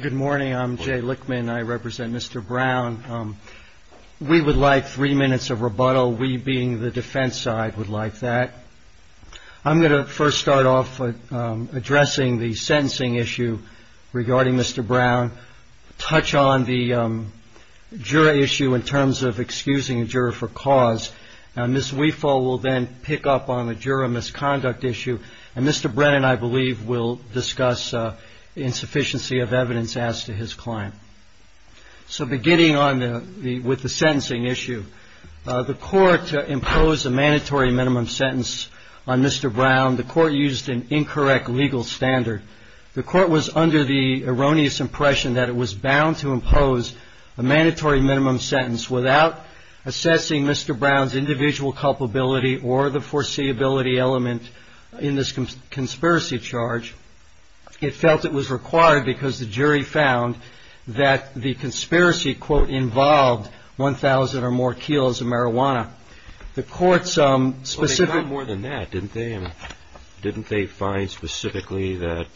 Good morning. I'm Jay Lichtman. I represent Mr. Brown. We would like three minutes of rebuttal. We being the defense side would like that. I'm going to first start off with addressing the sentencing issue regarding Mr. Brown. Touch on the jury issue in terms of excusing a juror for cause. And this we fall will then pick up on the juror misconduct issue. And Mr. Brennan, I believe, will discuss insufficiency of evidence as to his client. So beginning on the with the sentencing issue, the court to impose a mandatory minimum sentence on Mr. Brown. The court used an incorrect legal standard. The court was under the erroneous impression that it was bound to impose a mandatory minimum sentence without assessing Mr. Brown's individual culpability or the foreseeability element in this conspiracy charge. It felt it was required because the jury found that the conspiracy quote involved one thousand or more kilos of marijuana. The court some specific more than that, didn't they? And didn't they find specifically that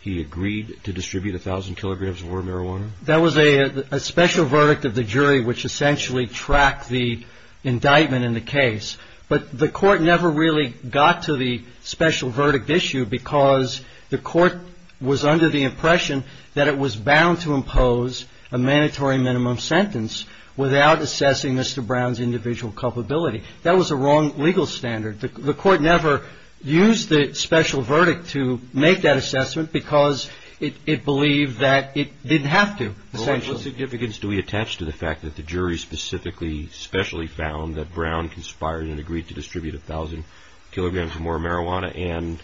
he agreed to distribute a thousand kilograms of marijuana? That was a special verdict of the jury, which essentially tracked the indictment in the case. But the court never really got to the special verdict issue because the court was under the impression that it was bound to impose a mandatory minimum sentence without assessing Mr. Brown's individual culpability. That was a wrong legal standard. The court never used the special verdict to make that assessment because it believed that it didn't have to. What significance do we attach to the fact that the jury specifically specially found that Brown conspired and agreed to distribute a thousand kilograms more marijuana and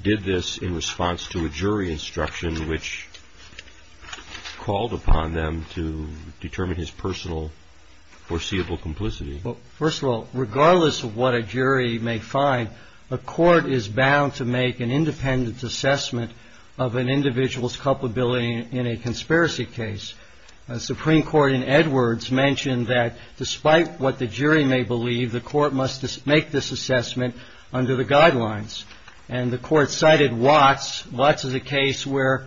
did this in response to a jury instruction which called upon them to determine his personal foreseeable complicity? First of all, regardless of what a jury may find, a court is bound to make an independent assessment of an individual's culpability in a conspiracy case. The Supreme Court in Edwards mentioned that despite what the jury may believe, the court must make this assessment under the guidelines. And the court cited Watts. Watts is a case where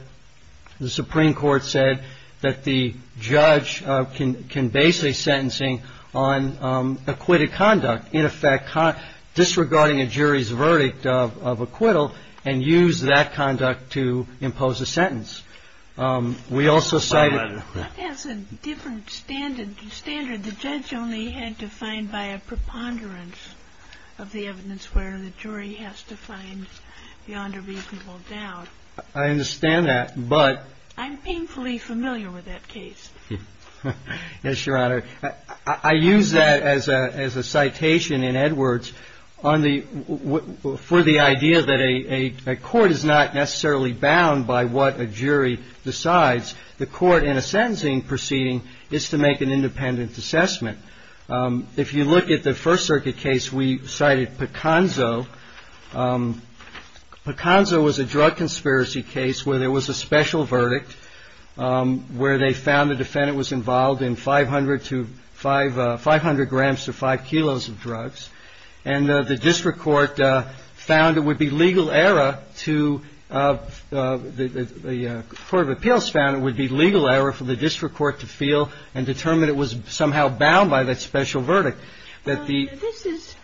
the Supreme Court said that the judge can base a sentencing on acquitted conduct. In effect, disregarding a jury's verdict of acquittal and use that conduct to impose a sentence. We also cited... That has a different standard. The judge only had to find by a preponderance of the evidence where the jury has to find beyond a reasonable doubt. I understand that, but... I'm painfully familiar with that case. Yes, Your Honor. I use that as a citation in Edwards for the idea that a court is not necessarily bound by what a jury decides. The court in a sentencing proceeding is to make an independent assessment. If you look at the First Circuit case, we cited Picanzo. Picanzo was a drug conspiracy case where there was a special verdict where they found the defendant was involved in 500 grams to 5 kilos of drugs. And the district court found it would be legal error to... The Court of Appeals found it would be legal error for the district court to feel and determine it was somehow bound by that special verdict. This is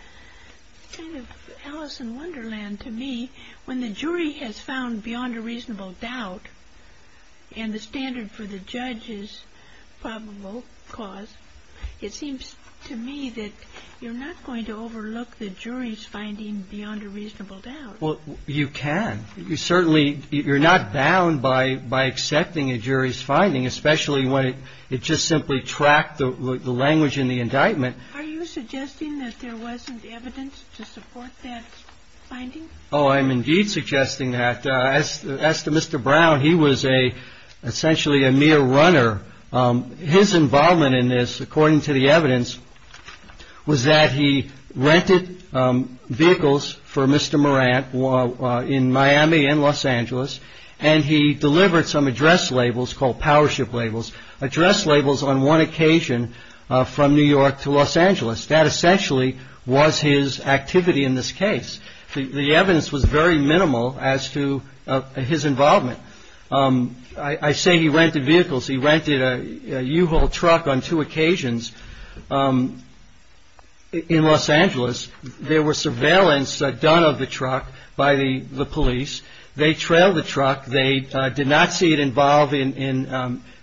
kind of Alice in Wonderland to me. When the jury has found beyond a reasonable doubt and the standard for the judge is probable cause, it seems to me that you're not going to overlook the jury's finding beyond a reasonable doubt. Well, you can. You certainly... You're not bound by accepting a jury's finding, especially when it just simply tracked the language in the indictment. Are you suggesting that there wasn't evidence to support that finding? Oh, I'm indeed suggesting that. As to Mr. Brown, he was essentially a mere runner. His involvement in this, according to the evidence, was that he rented vehicles for Mr. Morant in Miami and Los Angeles, and he delivered some address labels called powership labels, address labels on one occasion from New York to Los Angeles. That essentially was his activity in this case. The evidence was very minimal as to his involvement. I say he rented vehicles. He rented a U-Haul truck on two occasions in Los Angeles. There was surveillance done of the truck by the police. They trailed the truck. They did not see it involved in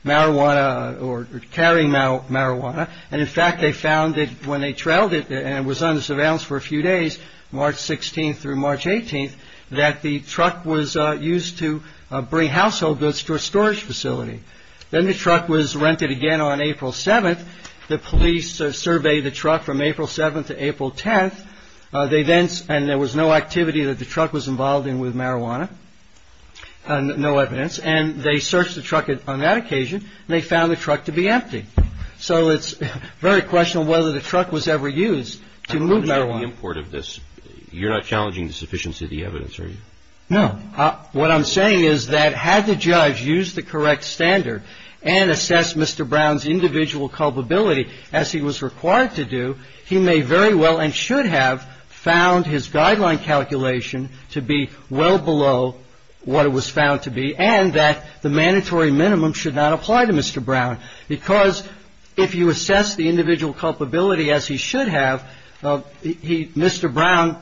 marijuana or carrying marijuana. And, in fact, they found that when they trailed it and was under surveillance for a few days, March 16th through March 18th, that the truck was used to bring household goods to a storage facility. Then the truck was rented again on April 7th. The police surveyed the truck from April 7th to April 10th. They then, and there was no activity that the truck was involved in with marijuana, no evidence. And they searched the truck on that occasion, and they found the truck to be empty. So it's very questionable whether the truck was ever used to move marijuana. I'm wondering about the import of this. You're not challenging the sufficiency of the evidence, are you? No. What I'm saying is that had the judge used the correct standard and assessed Mr. Brown's individual culpability as he was required to do, he may very well and should have found his guideline calculation to be well below what it was found to be, and that the mandatory minimum should not apply to Mr. Brown. Because if you assess the individual culpability as he should have, Mr. Brown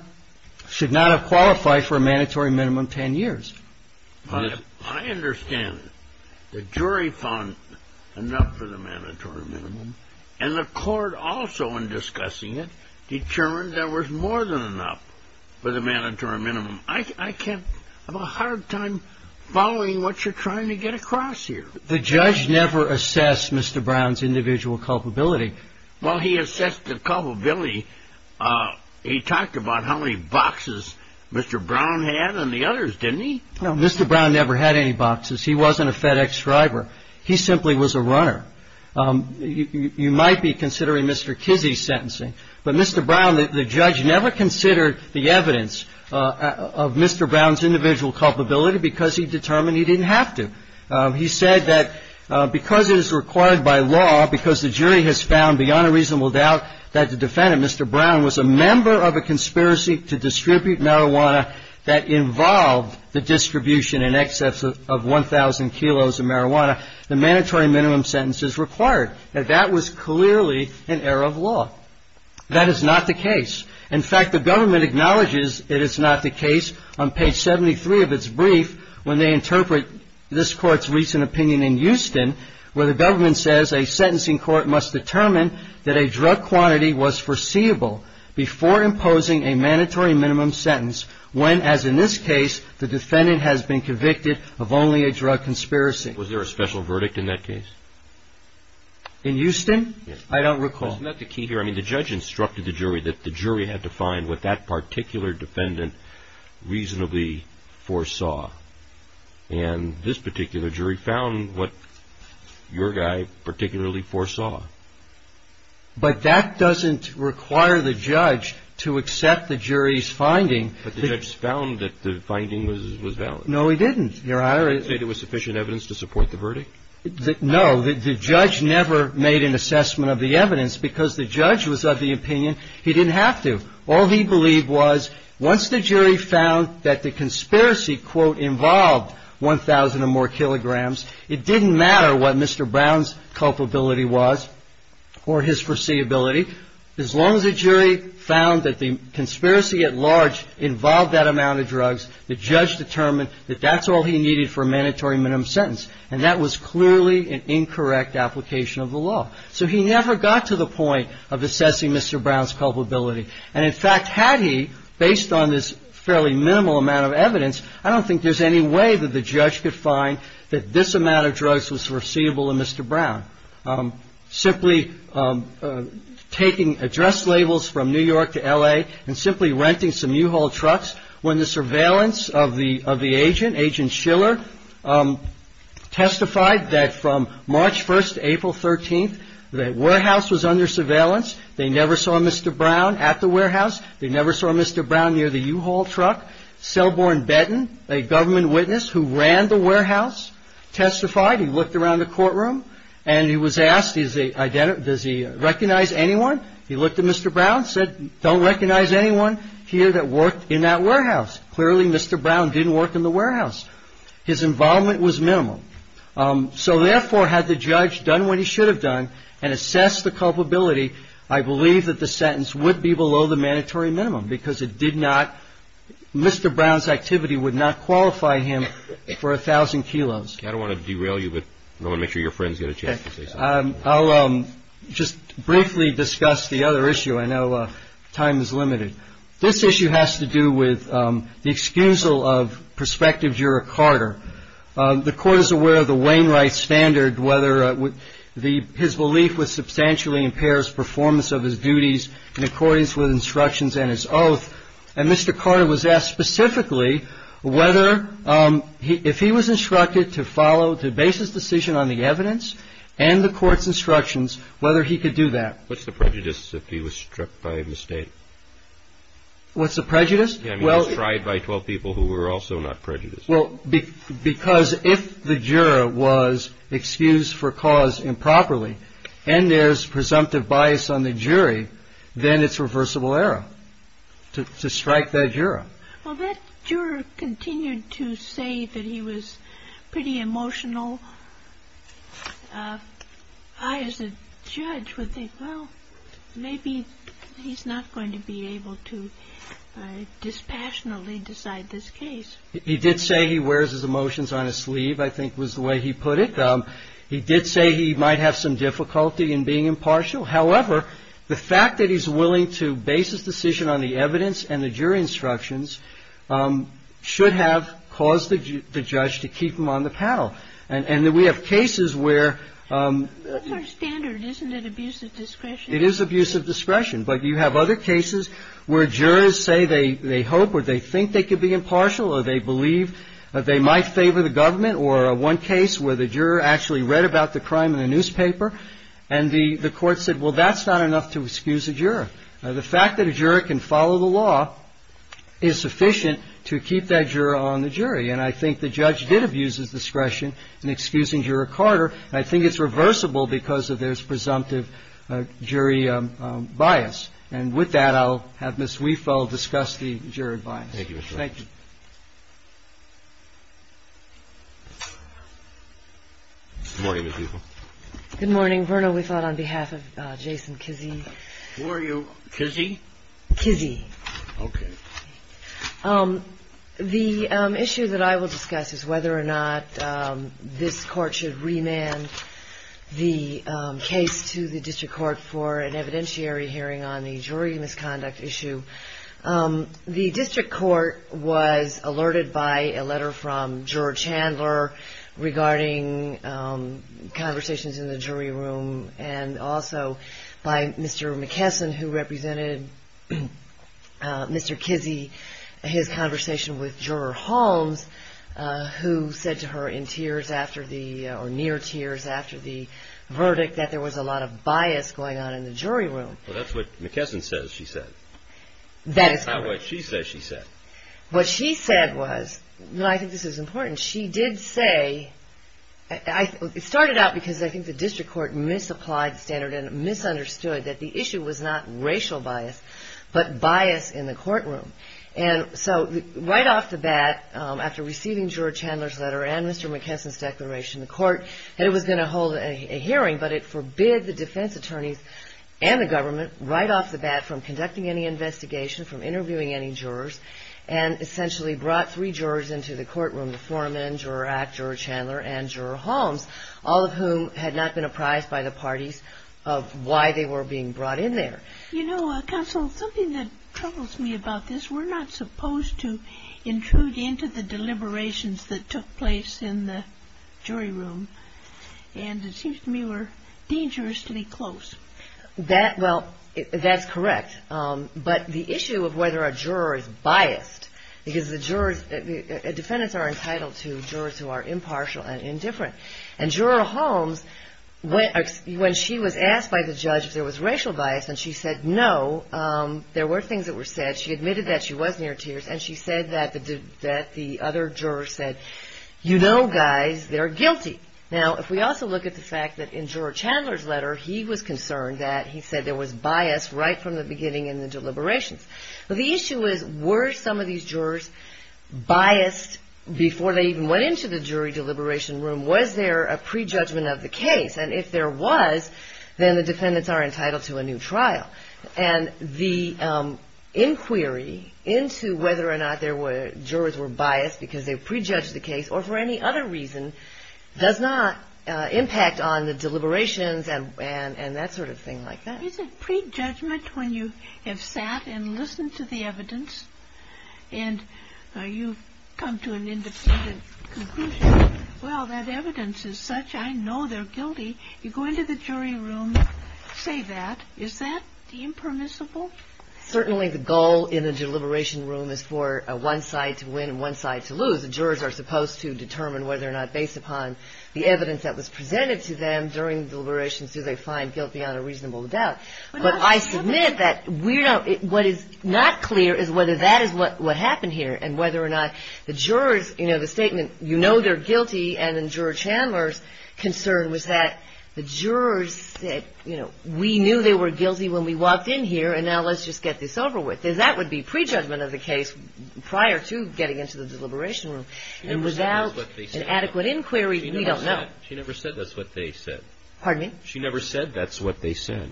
should not have qualified for a mandatory minimum ten years. I understand. The jury found enough for the mandatory minimum, and the court also, in discussing it, determined there was more than enough for the mandatory minimum. I have a hard time following what you're trying to get across here. The judge never assessed Mr. Brown's individual culpability. Well, he assessed the culpability. He talked about how many boxes Mr. Brown had and the others, didn't he? No, Mr. Brown never had any boxes. He wasn't a FedEx driver. He simply was a runner. You might be considering Mr. Kizzy's sentencing. But Mr. Brown, the judge never considered the evidence of Mr. Brown's individual culpability because he determined he didn't have to. He said that because it is required by law, because the jury has found beyond a reasonable doubt that the defendant, Mr. Brown, was a member of a conspiracy to distribute marijuana that involved the distribution in excess of 1,000 kilos of marijuana, the mandatory minimum sentence is required. That was clearly an error of law. That is not the case. In fact, the government acknowledges it is not the case. On page 73 of its brief, when they interpret this court's recent opinion in Houston, where the government says a sentencing court must determine that a drug quantity was foreseeable before imposing a mandatory minimum sentence, when, as in this case, the defendant has been convicted of only a drug conspiracy. Was there a special verdict in that case? In Houston? I don't recall. Isn't that the key here? I mean, the judge instructed the jury that the jury had to find what that particular defendant reasonably foresaw. And this particular jury found what your guy particularly foresaw. But that doesn't require the judge to accept the jury's finding. But the judge found that the finding was valid. No, he didn't, Your Honor. No, the judge never made an assessment of the evidence because the judge was of the opinion he didn't have to. All he believed was once the jury found that the conspiracy, quote, involved 1,000 or more kilograms, it didn't matter what Mr. Brown's culpability was or his foreseeability. As long as the jury found that the conspiracy at large involved that amount of drugs, the judge determined that that's all he needed for a mandatory minimum sentence. And that was clearly an incorrect application of the law. So he never got to the point of assessing Mr. Brown's culpability. And, in fact, had he, based on this fairly minimal amount of evidence, I don't think there's any way that the judge could find that this amount of drugs was foreseeable in Mr. Brown. Simply taking address labels from New York to L.A. and simply renting some U-Haul trucks, when the surveillance of the agent, Agent Schiller, testified that from March 1st to April 13th, the warehouse was under surveillance. They never saw Mr. Brown at the warehouse. They never saw Mr. Brown near the U-Haul truck. Selborne Benton, a government witness who ran the warehouse, testified. He looked around the courtroom and he was asked, does he recognize anyone? He looked at Mr. Brown, said, don't recognize anyone here that worked in that warehouse. Clearly, Mr. Brown didn't work in the warehouse. His involvement was minimal. So, therefore, had the judge done what he should have done and assessed the culpability, I believe that the sentence would be below the mandatory minimum because it did not, Mr. Brown's activity would not qualify him for 1,000 kilos. I don't want to derail you, but I want to make sure your friends get a chance to say something. I'll just briefly discuss the other issue. I know time is limited. This issue has to do with the excusal of Prospective Juror Carter. The Court is aware of the Wainwright standard, whether his belief was substantially impairs performance of his duties in accordance with instructions and his oath. And Mr. Carter was asked specifically whether if he was instructed to follow, to base his decision on the evidence and the court's instructions, whether he could do that. What's the prejudice if he was struck by a mistake? What's the prejudice? Well, tried by 12 people who were also not prejudiced. Well, because if the juror was excused for cause improperly and there's presumptive bias on the jury, then it's reversible error to strike that juror. Well, that juror continued to say that he was pretty emotional. I, as a judge, would think, well, maybe he's not going to be able to dispassionately decide this case. He did say he wears his emotions on his sleeve, I think was the way he put it. He did say he might have some difficulty in being impartial. However, the fact that he's willing to base his decision on the evidence and the jury instructions should have caused the judge to keep him on the panel. And we have cases where. It's our standard, isn't it? Abuse of discretion. It is abuse of discretion. But you have other cases where jurors say they hope or they think they could be impartial or they believe they might favor the government or one case where the juror actually read about the crime in the newspaper and the court said, well, that's not enough to excuse a juror. The fact that a juror can follow the law is sufficient to keep that juror on the jury. And I think the judge did abuse his discretion in excusing Juror Carter. I think it's reversible because of this presumptive jury bias. And with that, I'll have Ms. Wiefel discuss the jury bias. Thank you. Thank you. Good morning, Ms. Wiefel. Good morning. Vernal, we thought on behalf of Jason Kizzee. Who are you? Kizzee? Kizzee. Okay. The issue that I will discuss is whether or not this court should remand the case to the district court for an evidentiary hearing on the jury misconduct issue. The district court was alerted by a letter from Juror Chandler regarding conversations in the jury room and also by Mr. McKesson, who represented Mr. Kizzee, his conversation with Juror Holmes, who said to her in tears or near tears after the verdict that there was a lot of bias going on in the jury room. Well, that's what McKesson says she said. That is correct. Not what she says she said. What she said was, and I think this is important, she did say, it started out because I think the district court misapplied the standard and misunderstood that the issue was not racial bias, but bias in the courtroom. And so right off the bat, after receiving Juror Chandler's letter and Mr. McKesson's declaration, the court said it was going to hold a hearing, but it forbid the defense attorneys and the government right off the bat from conducting any investigation, from interviewing any jurors, and essentially brought three jurors into the courtroom, the Foreman, Juror Ack, Juror Chandler, and Juror Holmes, all of whom had not been apprised by the parties of why they were being brought in there. You know, Counsel, something that troubles me about this, we're not supposed to intrude into the deliberations that took place in the jury room. And it seems to me we're dangerous to be close. Well, that's correct. But the issue of whether a juror is biased, because the defendants are entitled to jurors who are impartial and indifferent. And Juror Holmes, when she was asked by the judge if there was racial bias and she said no, there were things that were said, she admitted that she was near tears, and she said that the other jurors said, you know, guys, they're guilty. Now, if we also look at the fact that in Juror Chandler's letter, he was concerned that he said there was bias right from the beginning in the deliberations. But the issue is, were some of these jurors biased before they even went into the jury deliberation room? Was there a prejudgment of the case? And if there was, then the defendants are entitled to a new trial. And the inquiry into whether or not jurors were biased because they prejudged the case or for any other reason does not impact on the deliberations and that sort of thing like that. Is it prejudgment when you have sat and listened to the evidence and you've come to an independent conclusion? Well, that evidence is such, I know they're guilty. You go into the jury room, say that. Is that the impermissible? Certainly the goal in the deliberation room is for one side to win and one side to lose. The jurors are supposed to determine whether or not, based upon the evidence that was presented to them during deliberations, do they find guilty on a reasonable doubt. But I submit that what is not clear is whether that is what happened here and whether or not the jurors, you know, the statement, you know they're guilty, and in Juror Chandler's concern was that the jurors said, you know, we knew they were guilty when we walked in here and now let's just get this over with. That would be prejudgment of the case prior to getting into the deliberation room. And without an adequate inquiry, we don't know. She never said that's what they said. Pardon me? She never said that's what they said.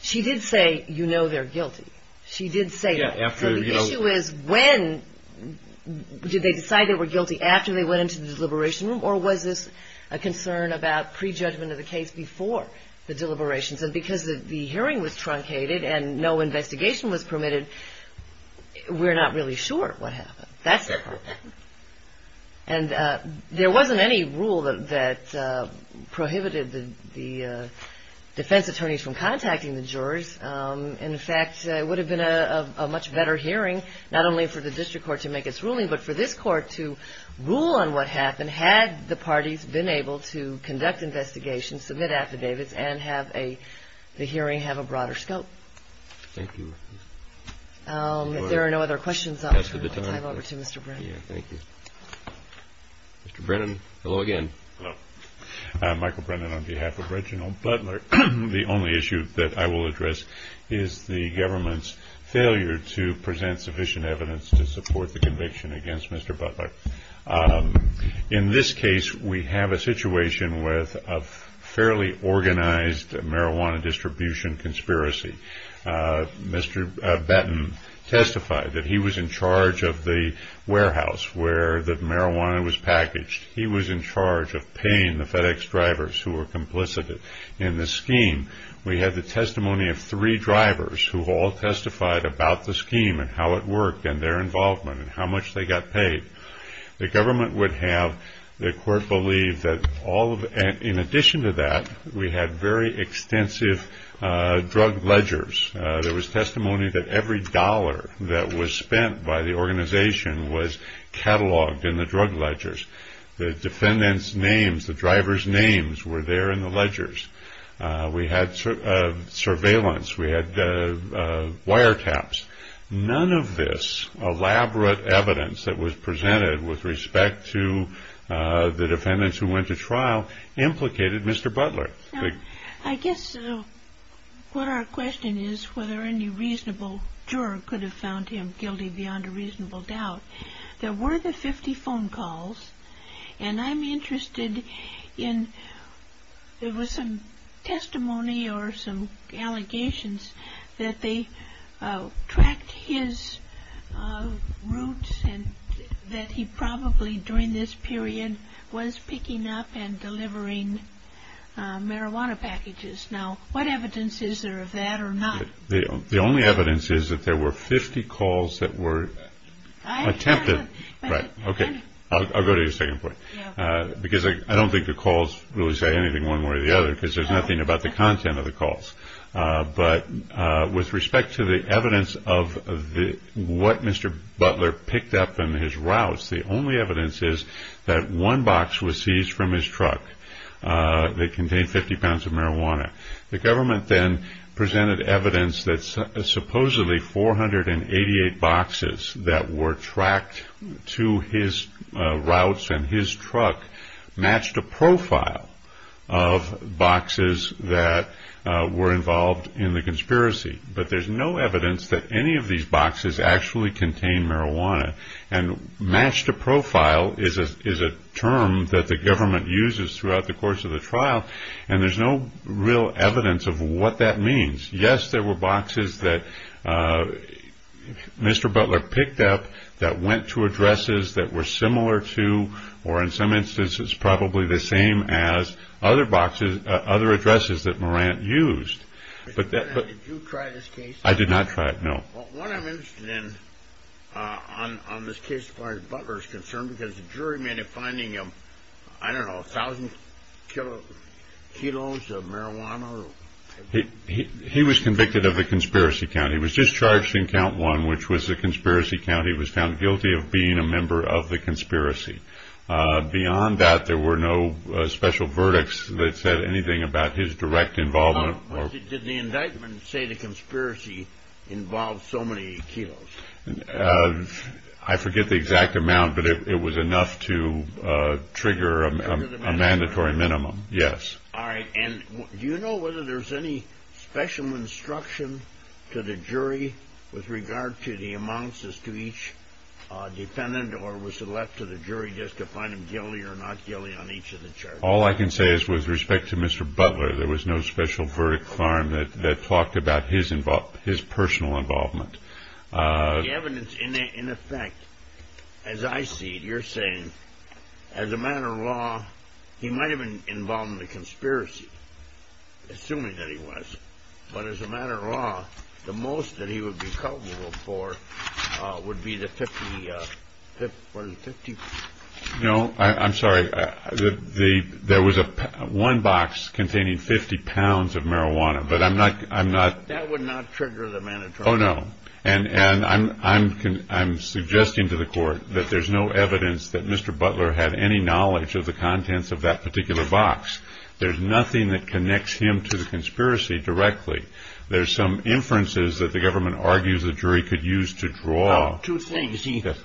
She did say, you know they're guilty. She did say that. The issue is when did they decide they were guilty, after they went into the deliberation room, or was this a concern about prejudgment of the case before the deliberations? And because the hearing was truncated and no investigation was permitted, we're not really sure what happened. And there wasn't any rule that prohibited the defense attorneys from contacting the jurors. In fact, it would have been a much better hearing, not only for the district court to make its ruling, but for this court to rule on what happened had the parties been able to conduct investigations, submit affidavits, and have the hearing have a broader scope. Thank you. If there are no other questions, I'll turn it over to Mr. Brennan. Thank you. Mr. Brennan, hello again. Hello. Michael Brennan on behalf of Reginald Butler. The only issue that I will address is the government's failure to present sufficient evidence to support the conviction against Mr. Butler. In this case, we have a situation with a fairly organized marijuana distribution conspiracy. Mr. Batten testified that he was in charge of the warehouse where the marijuana was packaged. He was in charge of paying the FedEx drivers who were complicit in the scheme. We had the testimony of three drivers who all testified about the scheme and how it worked and their involvement and how much they got paid. The government would have the court believe that in addition to that, we had very extensive drug ledgers. There was testimony that every dollar that was spent by the organization was cataloged in the drug ledgers. The defendants' names, the drivers' names were there in the ledgers. We had surveillance. We had wiretaps. None of this elaborate evidence that was presented with respect to the defendants who went to trial implicated Mr. Butler. I guess what our question is whether any reasonable juror could have found him guilty beyond a reasonable doubt. There were the 50 phone calls, and I'm interested in, there was some testimony or some allegations that they tracked his routes and that he probably during this period was picking up and delivering marijuana packages. Now, what evidence is there of that or not? The only evidence is that there were 50 calls that were attempted. I'll go to your second point because I don't think the calls really say anything one way or the other because there's nothing about the content of the calls. But with respect to the evidence of what Mr. Butler picked up in his routes, the only evidence is that one box was seized from his truck that contained 50 pounds of marijuana. The government then presented evidence that supposedly 488 boxes that were tracked to his routes and his truck matched a profile of boxes that were involved in the conspiracy. But there's no evidence that any of these boxes actually contained marijuana. And matched a profile is a term that the government uses throughout the course of the trial, and there's no real evidence of what that means. Yes, there were boxes that Mr. Butler picked up that went to addresses that were similar to or in some instances probably the same as other addresses that Morant used. Did you try this case? I did not try it, no. What I'm interested in on this case as far as Butler is concerned because the jury made a finding of, I don't know, a thousand kilos of marijuana. He was convicted of a conspiracy count. He was just charged in count one, which was a conspiracy count. And he was found guilty of being a member of the conspiracy. Beyond that, there were no special verdicts that said anything about his direct involvement. Did the indictment say the conspiracy involved so many kilos? I forget the exact amount, but it was enough to trigger a mandatory minimum, yes. All right, and do you know whether there's any special instruction to the jury with regard to the amounts as to each defendant or was it left to the jury just to find him guilty or not guilty on each of the charges? All I can say is with respect to Mr. Butler, there was no special verdict found that talked about his personal involvement. The evidence in effect, as I see it, you're saying, as a matter of law, he might have been involved in the conspiracy, assuming that he was. But as a matter of law, the most that he would be culpable for would be the 50. No, I'm sorry. There was one box containing 50 pounds of marijuana, but I'm not. That would not trigger the mandatory minimum. Oh, no, and I'm suggesting to the court that there's no evidence that Mr. Butler had any knowledge of the contents of that particular box. There's nothing that connects him to the conspiracy directly. There's some inferences that the government argues the jury could use to draw. Two things. Didn't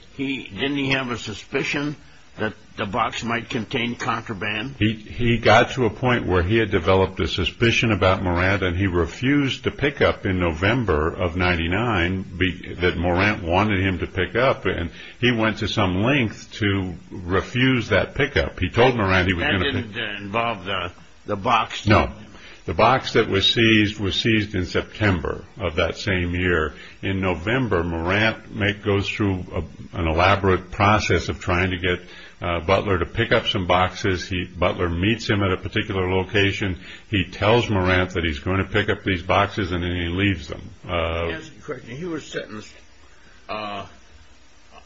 he have a suspicion that the box might contain contraband? He got to a point where he had developed a suspicion about Morant and he refused to pick up in November of 1999 that Morant wanted him to pick up. And he went to some length to refuse that pickup. He told Morant he was going to pick up. That didn't involve the box? No. The box that was seized was seized in September of that same year. In November, Morant goes through an elaborate process of trying to get Butler to pick up some boxes. Butler meets him at a particular location. He tells Morant that he's going to pick up these boxes and then he leaves them. To answer your question, he was sentenced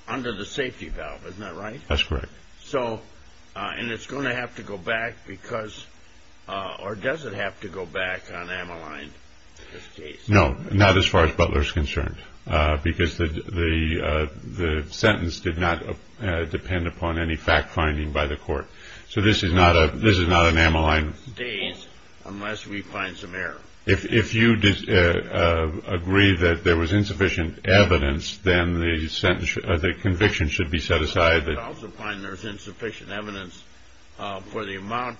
under the safety valve. Isn't that right? That's correct. And it's going to have to go back because, or does it have to go back on Ammaline? No. Not as far as Butler is concerned. Because the sentence did not depend upon any fact-finding by the court. So this is not an Ammaline case. Unless we find some error. If you agree that there was insufficient evidence, then the conviction should be set aside. I would also find there was insufficient evidence for the amount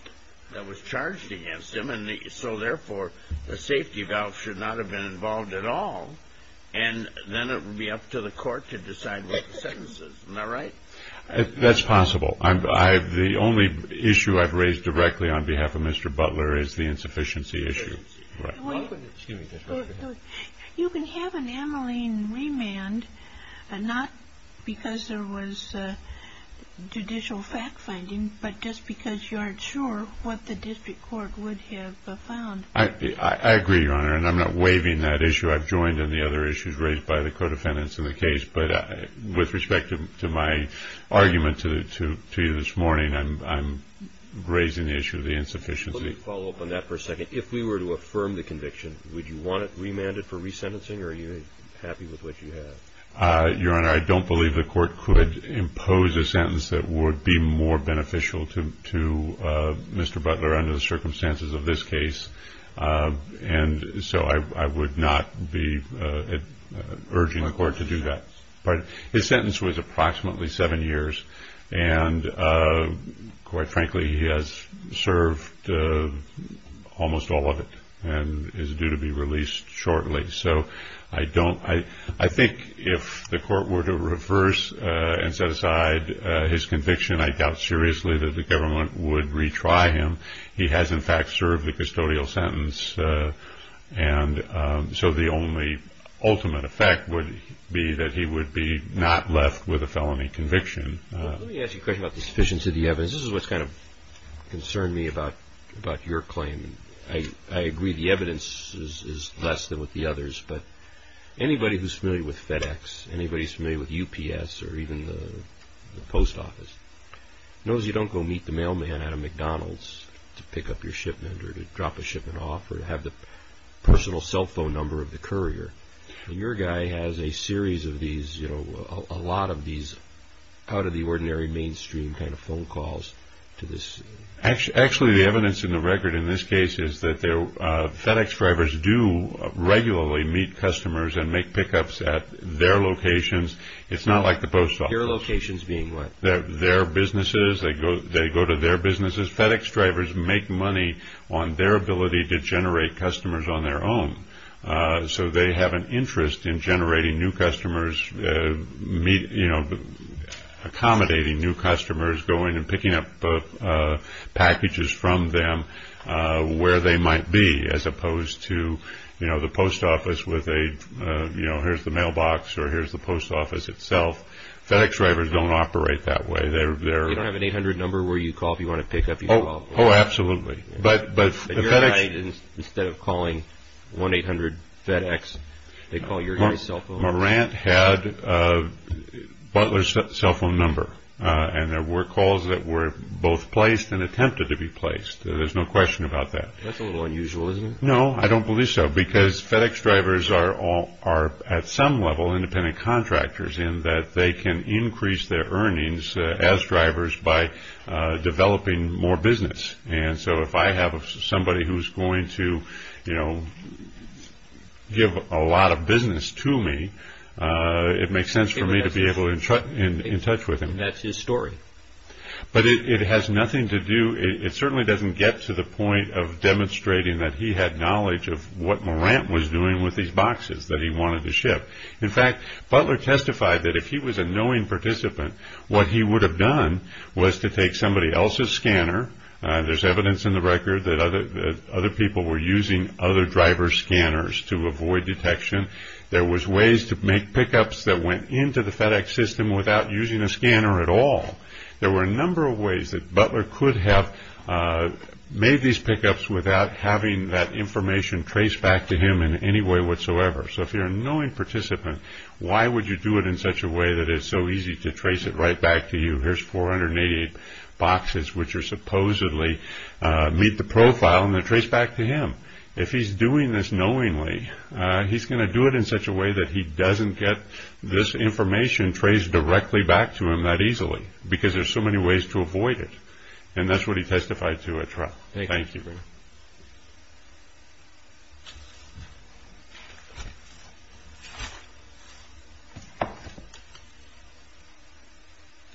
that was charged against him. So, therefore, the safety valve should not have been involved at all. And then it would be up to the court to decide what the sentence is. Isn't that right? That's possible. The only issue I've raised directly on behalf of Mr. Butler is the insufficiency issue. You can have an Ammaline remand not because there was judicial fact-finding, but just because you aren't sure what the district court would have found. I agree, Your Honor, and I'm not waiving that issue. I've joined in the other issues raised by the co-defendants in the case. But with respect to my argument to you this morning, I'm raising the issue of the insufficiency. Let me follow up on that for a second. If we were to affirm the conviction, would you want it remanded for resentencing, or are you happy with what you have? Your Honor, I don't believe the court could impose a sentence that would be more beneficial to Mr. Butler under the circumstances of this case. So I would not be urging the court to do that. His sentence was approximately seven years, and quite frankly, he has served almost all of it and is due to be released shortly. So I think if the court were to reverse and set aside his conviction, I doubt seriously that the government would retry him. He has, in fact, served the custodial sentence, and so the only ultimate effect would be that he would be not left with a felony conviction. Let me ask you a question about the sufficiency of the evidence. This is what's kind of concerned me about your claim. I agree the evidence is less than with the others, but anybody who's familiar with FedEx, anybody who's familiar with UPS or even the post office knows you don't go meet the mailman at a McDonald's to pick up your shipment or to drop a shipment off or to have the personal cell phone number of the courier. Your guy has a series of these, you know, a lot of these out-of-the-ordinary mainstream kind of phone calls to this. Actually, the evidence in the record in this case is that FedEx drivers do regularly meet customers and make pickups at their locations. It's not like the post office. Your locations being what? Their businesses. They go to their businesses. FedEx drivers make money on their ability to generate customers on their own, so they have an interest in generating new customers, you know, accommodating new customers, going and picking up packages from them where they might be as opposed to, you know, the post office with a, you know, here's the mailbox or here's the post office itself. FedEx drivers don't operate that way. They're... You don't have an 800 number where you call if you want to pick up your... Oh, absolutely. Instead of calling 1-800-FEDEX, they call your cell phone. Morant had Butler's cell phone number, and there were calls that were both placed and attempted to be placed. There's no question about that. That's a little unusual, isn't it? No, I don't believe so, because FedEx drivers are at some level independent contractors in that they can increase their earnings as drivers by developing more business. And so if I have somebody who's going to, you know, give a lot of business to me, it makes sense for me to be able to get in touch with him. And that's his story. But it has nothing to do... It certainly doesn't get to the point of demonstrating that he had knowledge of what Morant was doing with these boxes that he wanted to ship. In fact, Butler testified that if he was a knowing participant, what he would have done was to take somebody else's scanner There's evidence in the record that other people were using other drivers' scanners to avoid detection. There was ways to make pickups that went into the FedEx system without using a scanner at all. There were a number of ways that Butler could have made these pickups without having that information traced back to him in any way whatsoever. So if you're a knowing participant, why would you do it in such a way that it's so easy to trace it right back to you? Here's 488 boxes which supposedly meet the profile and they're traced back to him. If he's doing this knowingly, he's going to do it in such a way that he doesn't get this information traced directly back to him that easily. Because there's so many ways to avoid it. And that's what he testified to at trial. Thank you. Good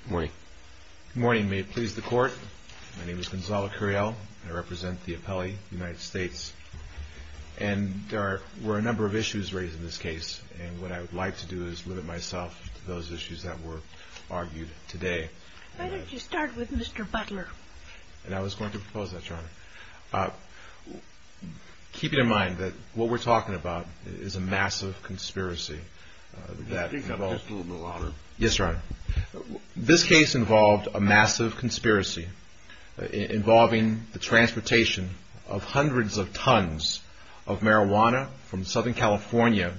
morning. Good morning. May it please the court. My name is Gonzalo Curiel. I represent the appellee, United States. And there were a number of issues raised in this case. And what I would like to do is limit myself to those issues that were argued today. Why don't you start with Mr. Butler? And I was going to propose that, Your Honor. Keeping in mind that what we're talking about is a massive conspiracy. Speak a little bit louder. Yes, Your Honor. This case involved a massive conspiracy involving the transportation of hundreds of tons of marijuana from Southern California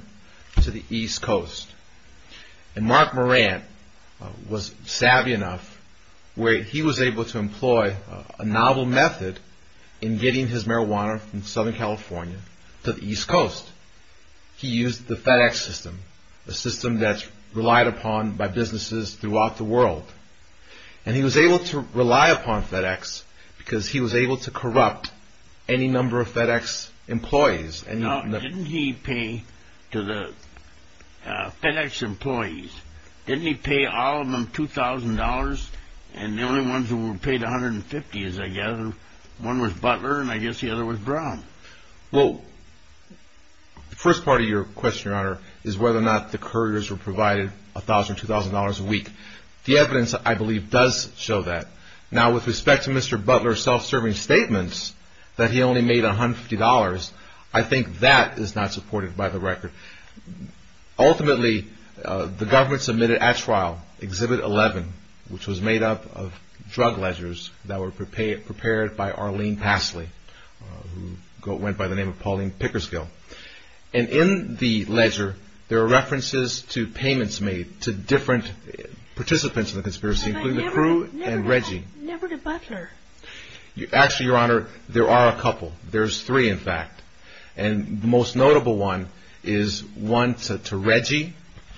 to the East Coast. And Mark Morant was savvy enough where he was able to employ a novel method in getting his marijuana from Southern California to the East Coast. He used the FedEx system, a system that's relied upon by businesses throughout the world. And he was able to rely upon FedEx because he was able to corrupt any number of FedEx employees. Now, didn't he pay to the FedEx employees, didn't he pay all of them $2,000? And the only ones who were paid $150 is, I gather, one was Butler and I guess the other was Brown. Well, the first part of your question, Your Honor, is whether or not the couriers were provided $1,000 or $2,000 a week. The evidence, I believe, does show that. Now, with respect to Mr. Butler's self-serving statements that he only made $150, I think that is not supported by the record. Ultimately, the government submitted at trial Exhibit 11, which was made up of drug ledgers that were prepared by Arlene Pasley, who went by the name of Pauline Pickersgill. And in the ledger, there are references to payments made to different participants in the conspiracy, including the crew and Reggie. Never to Butler. Actually, Your Honor, there are a couple. There's three, in fact. And the most notable one is one to Reggie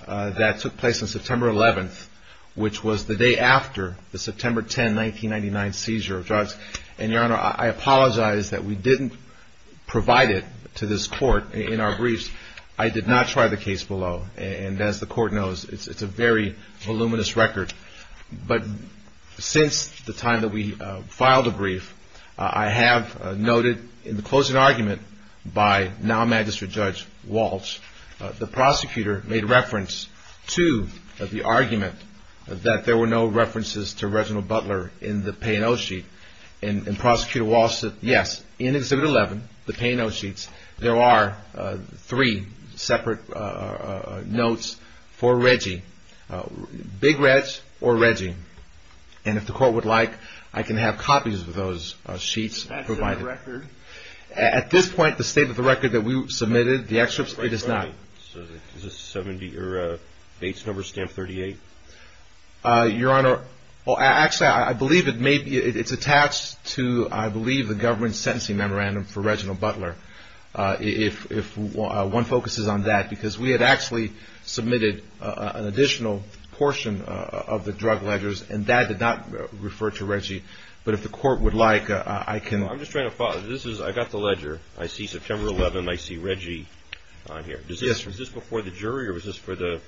that took place on September 11th, which was the day after the September 10, 1999 seizure of drugs. And Your Honor, I apologize that we didn't provide it to this court in our briefs. I did not try the case below. And as the court knows, it's a very voluminous record. But since the time that we filed a brief, I have noted in the closing argument by now Magistrate Judge Walsh, the prosecutor made reference to the argument that there were no references to Reginald Butler in the P&O sheet. And Prosecutor Walsh said, yes, in Exhibit 11, the P&O sheets, there are three separate notes for Reggie. Big Reg or Reggie. And if the court would like, I can have copies of those sheets provided. At this point, the state of the record that we submitted, the excerpts, it is not. Is this a 70 or a base number, stamp 38? Your Honor, well, actually, I believe it's attached to, I believe, the government's sentencing memorandum for Reginald Butler. If one focuses on that, because we had actually submitted an additional portion of the drug ledgers, and that did not refer to Reggie. But if the court would like, I can. I'm just trying to follow. This is, I got the ledger. I see September 11. I see Reggie on here. Is this before the jury or was this for the.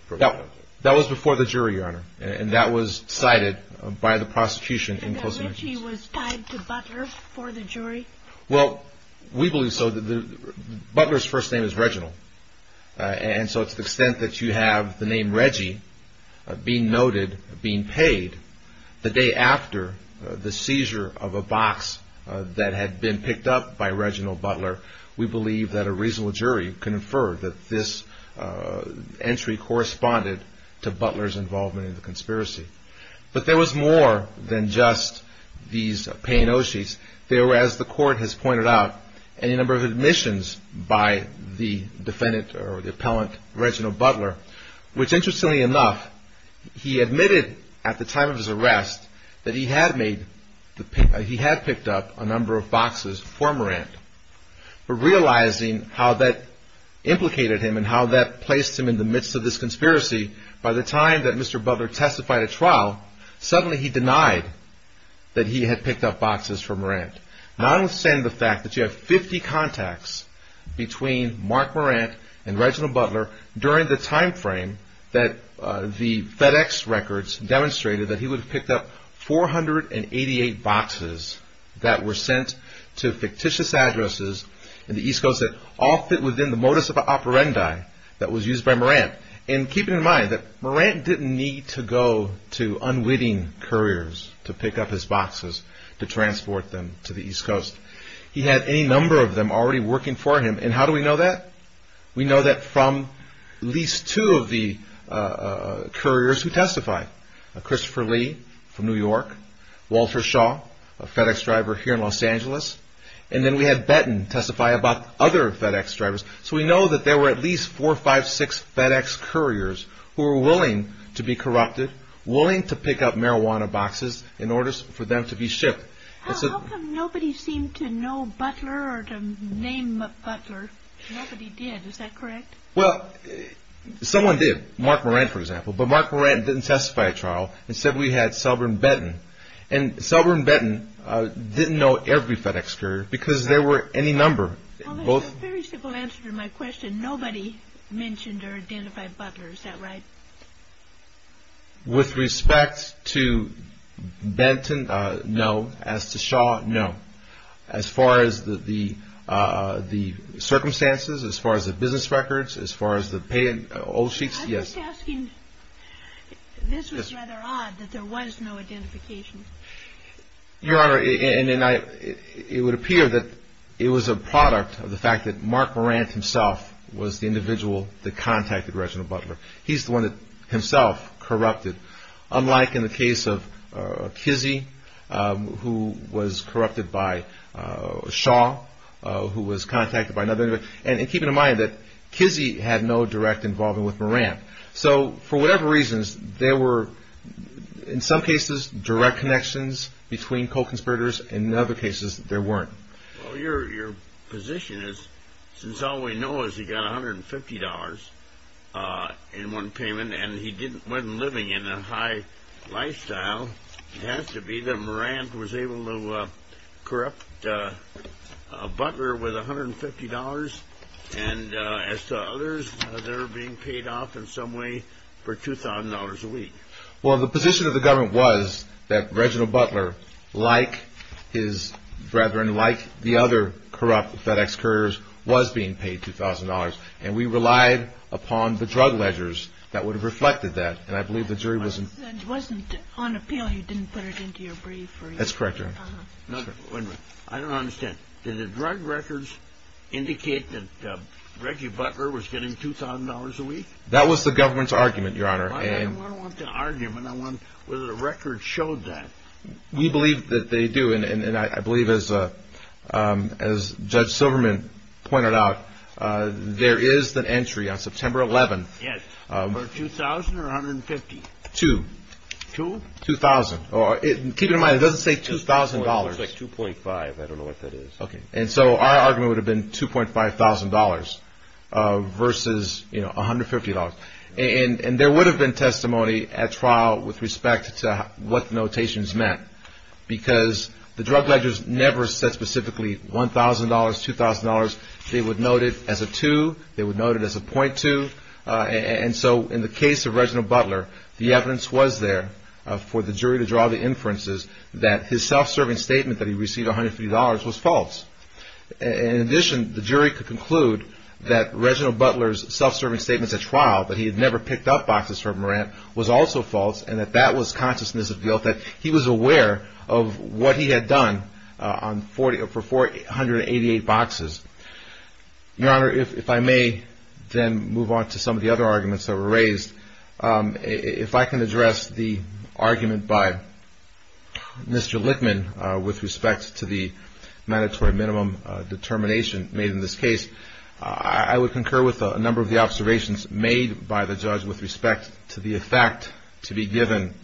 That was before the jury, Your Honor. And that was cited by the prosecution in closing. That Reggie was tied to Butler for the jury? Well, we believe so. Butler's first name is Reginald. And so to the extent that you have the name Reggie being noted, being paid, the day after the seizure of a box that had been picked up by Reginald Butler, we believe that a reasonable jury conferred that this entry corresponded to Butler's involvement in the conspiracy. But there was more than just these paying O'sheets. There were, as the court has pointed out, any number of admissions by the defendant or the appellant, Reginald Butler, which interestingly enough, he admitted at the time of his arrest that he had made, he had picked up a number of boxes for Morant. But realizing how that implicated him and how that placed him in the midst of this conspiracy, by the time that Mr. Butler testified at trial, suddenly he denied that he had picked up boxes for Morant. Notwithstanding the fact that you have 50 contacts between Mark Morant and Reginald Butler during the time frame that the FedEx records demonstrated that he would have picked up 488 boxes that were sent to fictitious addresses in the East Coast that all fit within the modus operandi that was used by Morant. And keeping in mind that Morant didn't need to go to unwitting couriers to pick up his boxes to transport them to the East Coast. He had any number of them already working for him. And how do we know that? We know that from at least two of the couriers who testified, Christopher Lee from New York, Walter Shaw, a FedEx driver here in Los Angeles, and then we had Betton testify about other FedEx drivers. So we know that there were at least four, five, six FedEx couriers who were willing to be corrupted, willing to pick up marijuana boxes in order for them to be shipped. How come nobody seemed to know Butler or to name Butler? Nobody did, is that correct? Well, someone did. Mark Morant, for example. But Mark Morant didn't testify at trial. Instead, we had Selbram Betton. And Selbram Betton didn't know every FedEx courier because there were any number. Well, there's a very simple answer to my question. Nobody mentioned or identified Butler. Is that right? With respect to Benton, no. As to Shaw, no. As far as the circumstances, as far as the business records, as far as the old sheets, yes. I'm just asking. This was rather odd that there was no identification. Your Honor, it would appear that it was a product of the fact that Mark Morant himself was the individual that contacted Reginald Butler. He's the one that himself corrupted, unlike in the case of Kizzee, who was corrupted by Shaw, who was contacted by another individual. And keep in mind that Kizzee had no direct involvement with Morant. So for whatever reasons, there were, in some cases, direct connections between co-conspirators. In other cases, there weren't. Well, your position is since all we know is he got $150 in one payment and he went living in a high lifestyle, it has to be that Morant was able to corrupt Butler with $150. And as to others, they're being paid off in some way for $2,000 a week. Well, the position of the government was that Reginald Butler, like his brethren, like the other corrupt FedEx couriers, was being paid $2,000. And we relied upon the drug ledgers that would have reflected that. And I believe the jury was in favor. It wasn't on appeal. You didn't put it into your brief. That's correct, Your Honor. I don't understand. Did the drug records indicate that Reggie Butler was getting $2,000 a week? That was the government's argument, Your Honor. I don't want an argument. I want whether the records showed that. We believe that they do. And I believe, as Judge Silverman pointed out, there is an entry on September 11th. Yes. For $2,000 or $150? Two. Two? $2,000. Keep in mind, it doesn't say $2,000. It looks like 2.5. I don't know what that is. Okay. And so our argument would have been $2,500 versus $150. And there would have been testimony at trial with respect to what the notations meant. Because the drug ledgers never said specifically $1,000, $2,000. They would note it as a two. They would note it as a .2. And so in the case of Reginald Butler, the evidence was there for the jury to draw the inferences that his self-serving statement that he received $150 was false. In addition, the jury could conclude that Reginald Butler's self-serving statements at trial, that he had never picked up boxes from Morant, was also false, and that that was consciousness of guilt, that he was aware of what he had done for 488 boxes. Your Honor, if I may then move on to some of the other arguments that were raised. If I can address the argument by Mr. Lichtman with respect to the mandatory minimum determination made in this case, I would concur with a number of the observations made by the judge with respect to the effect to be given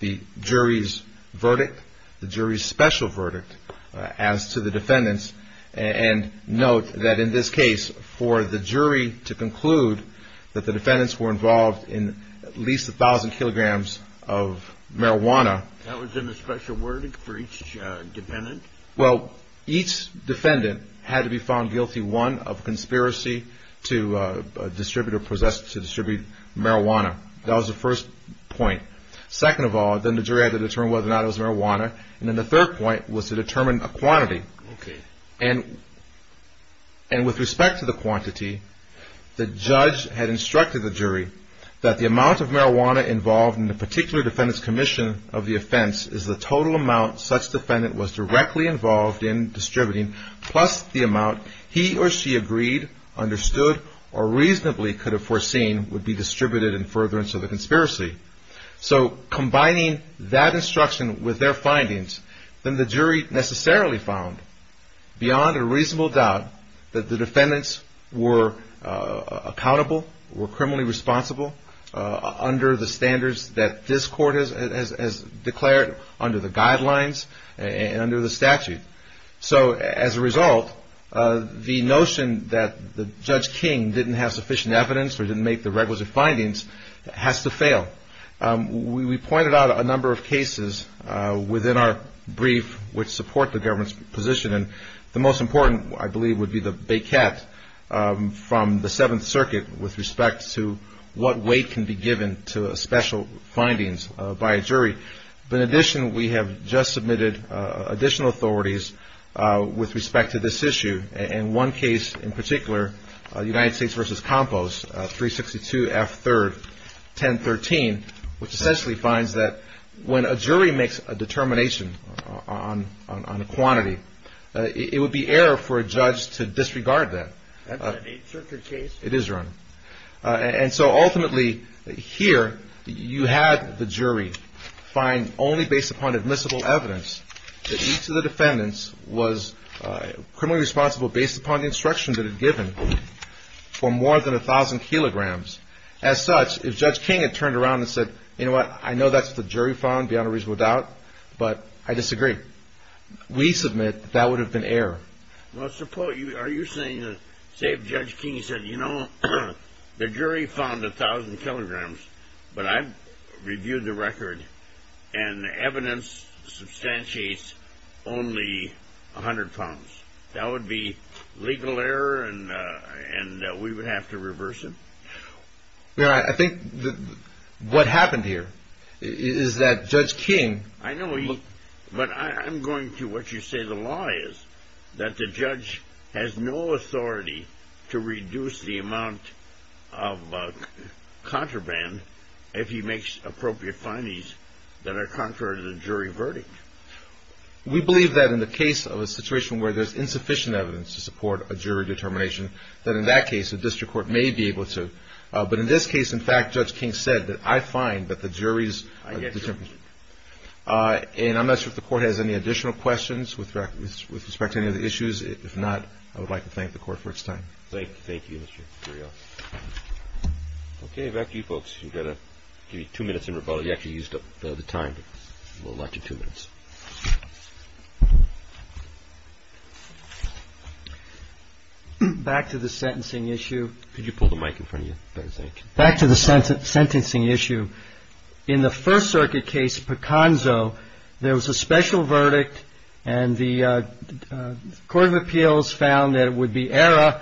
the jury's verdict, the jury's special verdict, as to the defendants. And note that in this case, for the jury to conclude that the defendants were involved in at least 1,000 kilograms of marijuana. That was in the special verdict for each defendant? Well, each defendant had to be found guilty, one, of conspiracy to distribute or possessed to distribute marijuana. That was the first point. Second of all, then the jury had to determine whether or not it was marijuana. And then the third point was to determine a quantity. And with respect to the quantity, the judge had instructed the jury that the amount of marijuana involved in the particular defendant's commission of the offense is the total amount such defendant was directly involved in distributing, plus the amount he or she agreed, understood, or reasonably could have foreseen would be distributed in furtherance of the conspiracy. So combining that instruction with their findings, then the jury necessarily found beyond a reasonable doubt that the defendants were accountable, were criminally responsible under the standards that this court has declared under the guidelines and under the statute. So as a result, the notion that Judge King didn't have sufficient evidence or didn't make the requisite findings has to fail. We pointed out a number of cases within our brief which support the government's position. And the most important, I believe, would be the baquette from the Seventh Circuit with respect to what weight can be given to special findings by a jury. But in addition, we have just submitted additional authorities with respect to this issue. And one case in particular, United States v. Compost, 362 F. 3rd, 1013, which essentially finds that when a jury makes a determination on a quantity, it would be error for a judge to disregard that. That's an Eighth Circuit case. It is, Your Honor. And so ultimately, here, you had the jury find only based upon admissible evidence that each of the defendants was criminally responsible based upon the instruction that it had given for more than 1,000 kilograms. As such, if Judge King had turned around and said, you know what, I know that's what the jury found beyond a reasonable doubt, but I disagree. We submit that that would have been error. Well, suppose, are you saying, say if Judge King said, you know, the jury found 1,000 kilograms, but I've reviewed the record, and the evidence substantiates only 100 pounds. That would be legal error, and we would have to reverse it? Your Honor, I think what happened here is that Judge King... But I'm going to what you say the law is, that the judge has no authority to reduce the amount of contraband if he makes appropriate findings that are contrary to the jury verdict. We believe that in the case of a situation where there's insufficient evidence to support a jury determination, that in that case a district court may be able to. But in this case, in fact, Judge King said that I find that the jury's... I get you. And I'm not sure if the Court has any additional questions with respect to any of the issues. If not, I would like to thank the Court for its time. Thank you. Thank you, Mr. Curiel. Okay. Back to you folks. You've got to give me two minutes in rebuttal. You actually used up the time. We'll allot you two minutes. Back to the sentencing issue. Could you pull the mic in front of you? Back to the sentencing issue. In the First Circuit case, Picanzo, there was a special verdict, and the Court of Appeals found that it would be error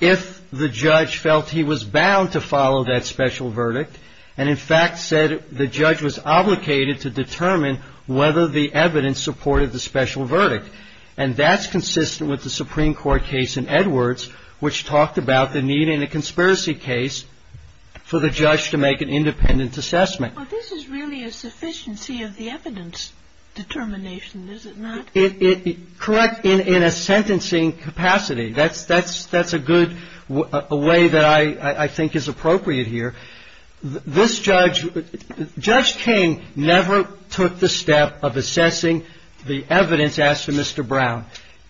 if the judge felt he was bound to follow that special verdict and, in fact, said the judge was obligated to determine whether the evidence supported the special verdict. And that's consistent with the Supreme Court case in Edwards, which talked about the need in a conspiracy case for the judge to make an independent assessment. Well, this is really a sufficiency of the evidence determination, is it not? Correct. In a sentencing capacity. That's a good way that I think is appropriate here. This judge, Judge King, never took the step of assessing the evidence, asked for Mr. Brown.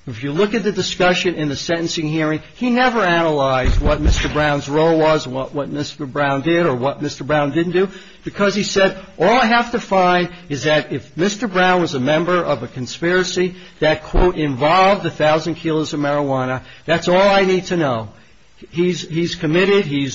If you look at the discussion in the sentencing hearing, he never analyzed what Mr. Brown's role was, what Mr. Brown did or what Mr. Brown didn't do, because he said, all I have to find is that if Mr. Brown was a member of a conspiracy that, quote, involved a thousand kilos of marijuana, that's all I need to know. He's committed. He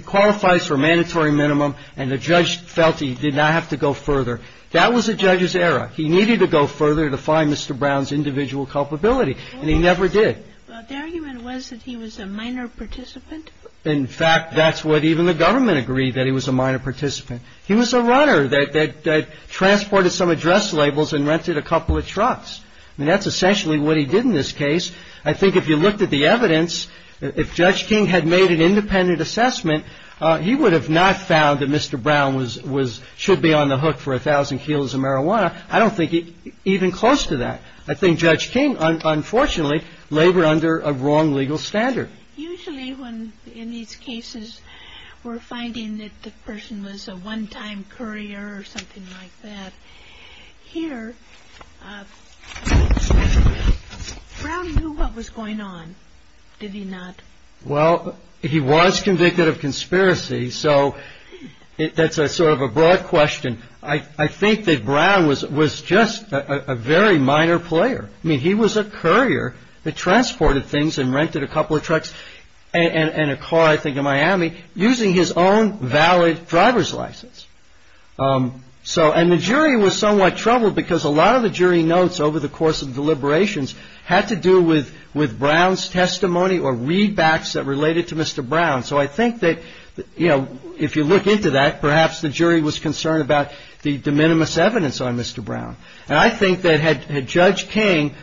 qualifies for a mandatory minimum, and the judge felt he did not have to go further. That was the judge's error. He needed to go further to find Mr. Brown's individual culpability, and he never did. The argument was that he was a minor participant. In fact, that's what even the government agreed, that he was a minor participant. He was a runner that transported some address labels and rented a couple of trucks. And that's essentially what he did in this case. I think if you looked at the evidence, if Judge King had made an independent assessment, he would have not found that Mr. Brown should be on the hook for a thousand kilos of marijuana. I don't think even close to that. I think Judge King, unfortunately, labored under a wrong legal standard. Usually when in these cases we're finding that the person was a one-time courier or something like that, here, Brown knew what was going on, did he not? Well, he was convicted of conspiracy, so that's sort of a broad question. I think that Brown was just a very minor player. I mean, he was a courier that transported things and rented a couple of trucks and a car, I think, in Miami, using his own valid driver's license. And the jury was somewhat troubled because a lot of the jury notes over the course of deliberations had to do with Brown's testimony or readbacks that related to Mr. Brown. So I think that, you know, if you look into that, perhaps the jury was concerned about the de minimis evidence on Mr. Brown. And I think that had Judge King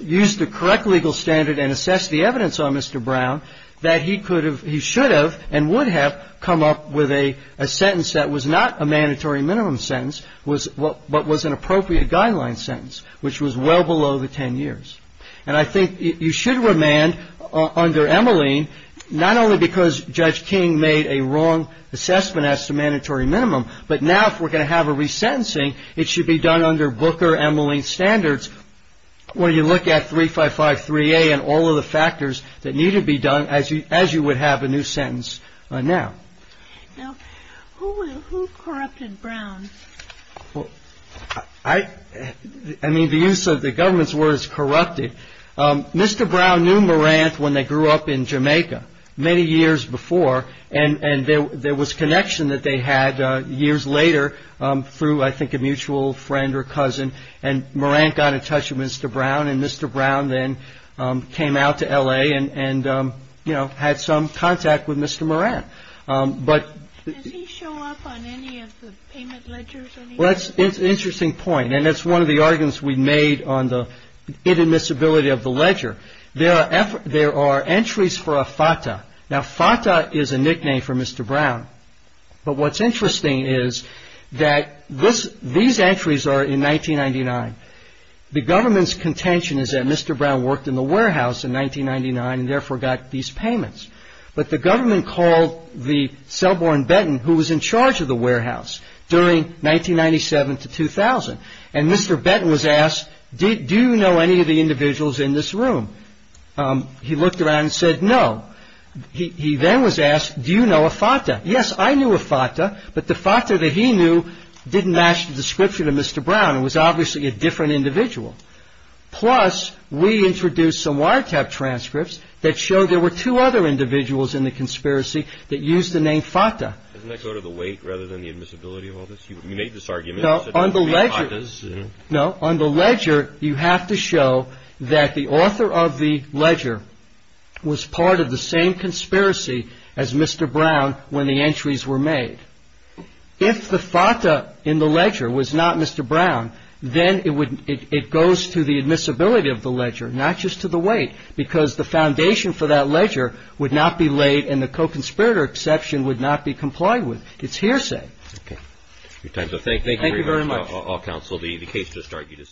used the correct legal standard and assessed the evidence on Mr. Brown, that he should have and would have come up with a sentence that was not a mandatory minimum sentence, but was an appropriate guideline sentence, which was well below the 10 years. And I think you should remand under Emmeline, not only because Judge King made a wrong assessment as to mandatory minimum, but now if we're going to have a resentencing, it should be done under Booker-Emmeline standards where you look at 355-3A and all of the factors that need to be done as you would have a new sentence now. Who corrupted Brown? I mean, the use of the government's word is corrupted. Mr. Brown knew Morant when they grew up in Jamaica many years before and there was connection that they had years later through, I think, a mutual friend or cousin. And Morant got in touch with Mr. Brown and Mr. Brown then came out to L.A. and, you know, had some contact with Mr. Morant. Does he show up on any of the payment ledgers? Well, that's an interesting point, and it's one of the arguments we made on the inadmissibility of the ledger. There are entries for a FATA. Now, FATA is a nickname for Mr. Brown, but what's interesting is that these entries are in 1999. The government's contention is that Mr. Brown worked in the warehouse in 1999 and therefore got these payments. But the government called the cell boy in Benton who was in charge of the warehouse during 1997 to 2000. And Mr. Benton was asked, do you know any of the individuals in this room? He looked around and said no. He then was asked, do you know a FATA? Yes, I knew a FATA, but the FATA that he knew didn't match the description of Mr. Brown. It was obviously a different individual. Plus, we introduced some wiretap transcripts that showed there were two other individuals in the conspiracy that used the name FATA. Doesn't that go to the weight rather than the admissibility of all this? You made this argument. No, on the ledger you have to show that the author of the ledger was part of the same conspiracy as Mr. Brown when the entries were made. If the FATA in the ledger was not Mr. Brown, then it goes to the admissibility of the ledger, not just to the weight, because the foundation for that ledger would not be laid and the co-conspirator exception would not be complied with. It's hearsay. Thank you very much, counsel. The case just started.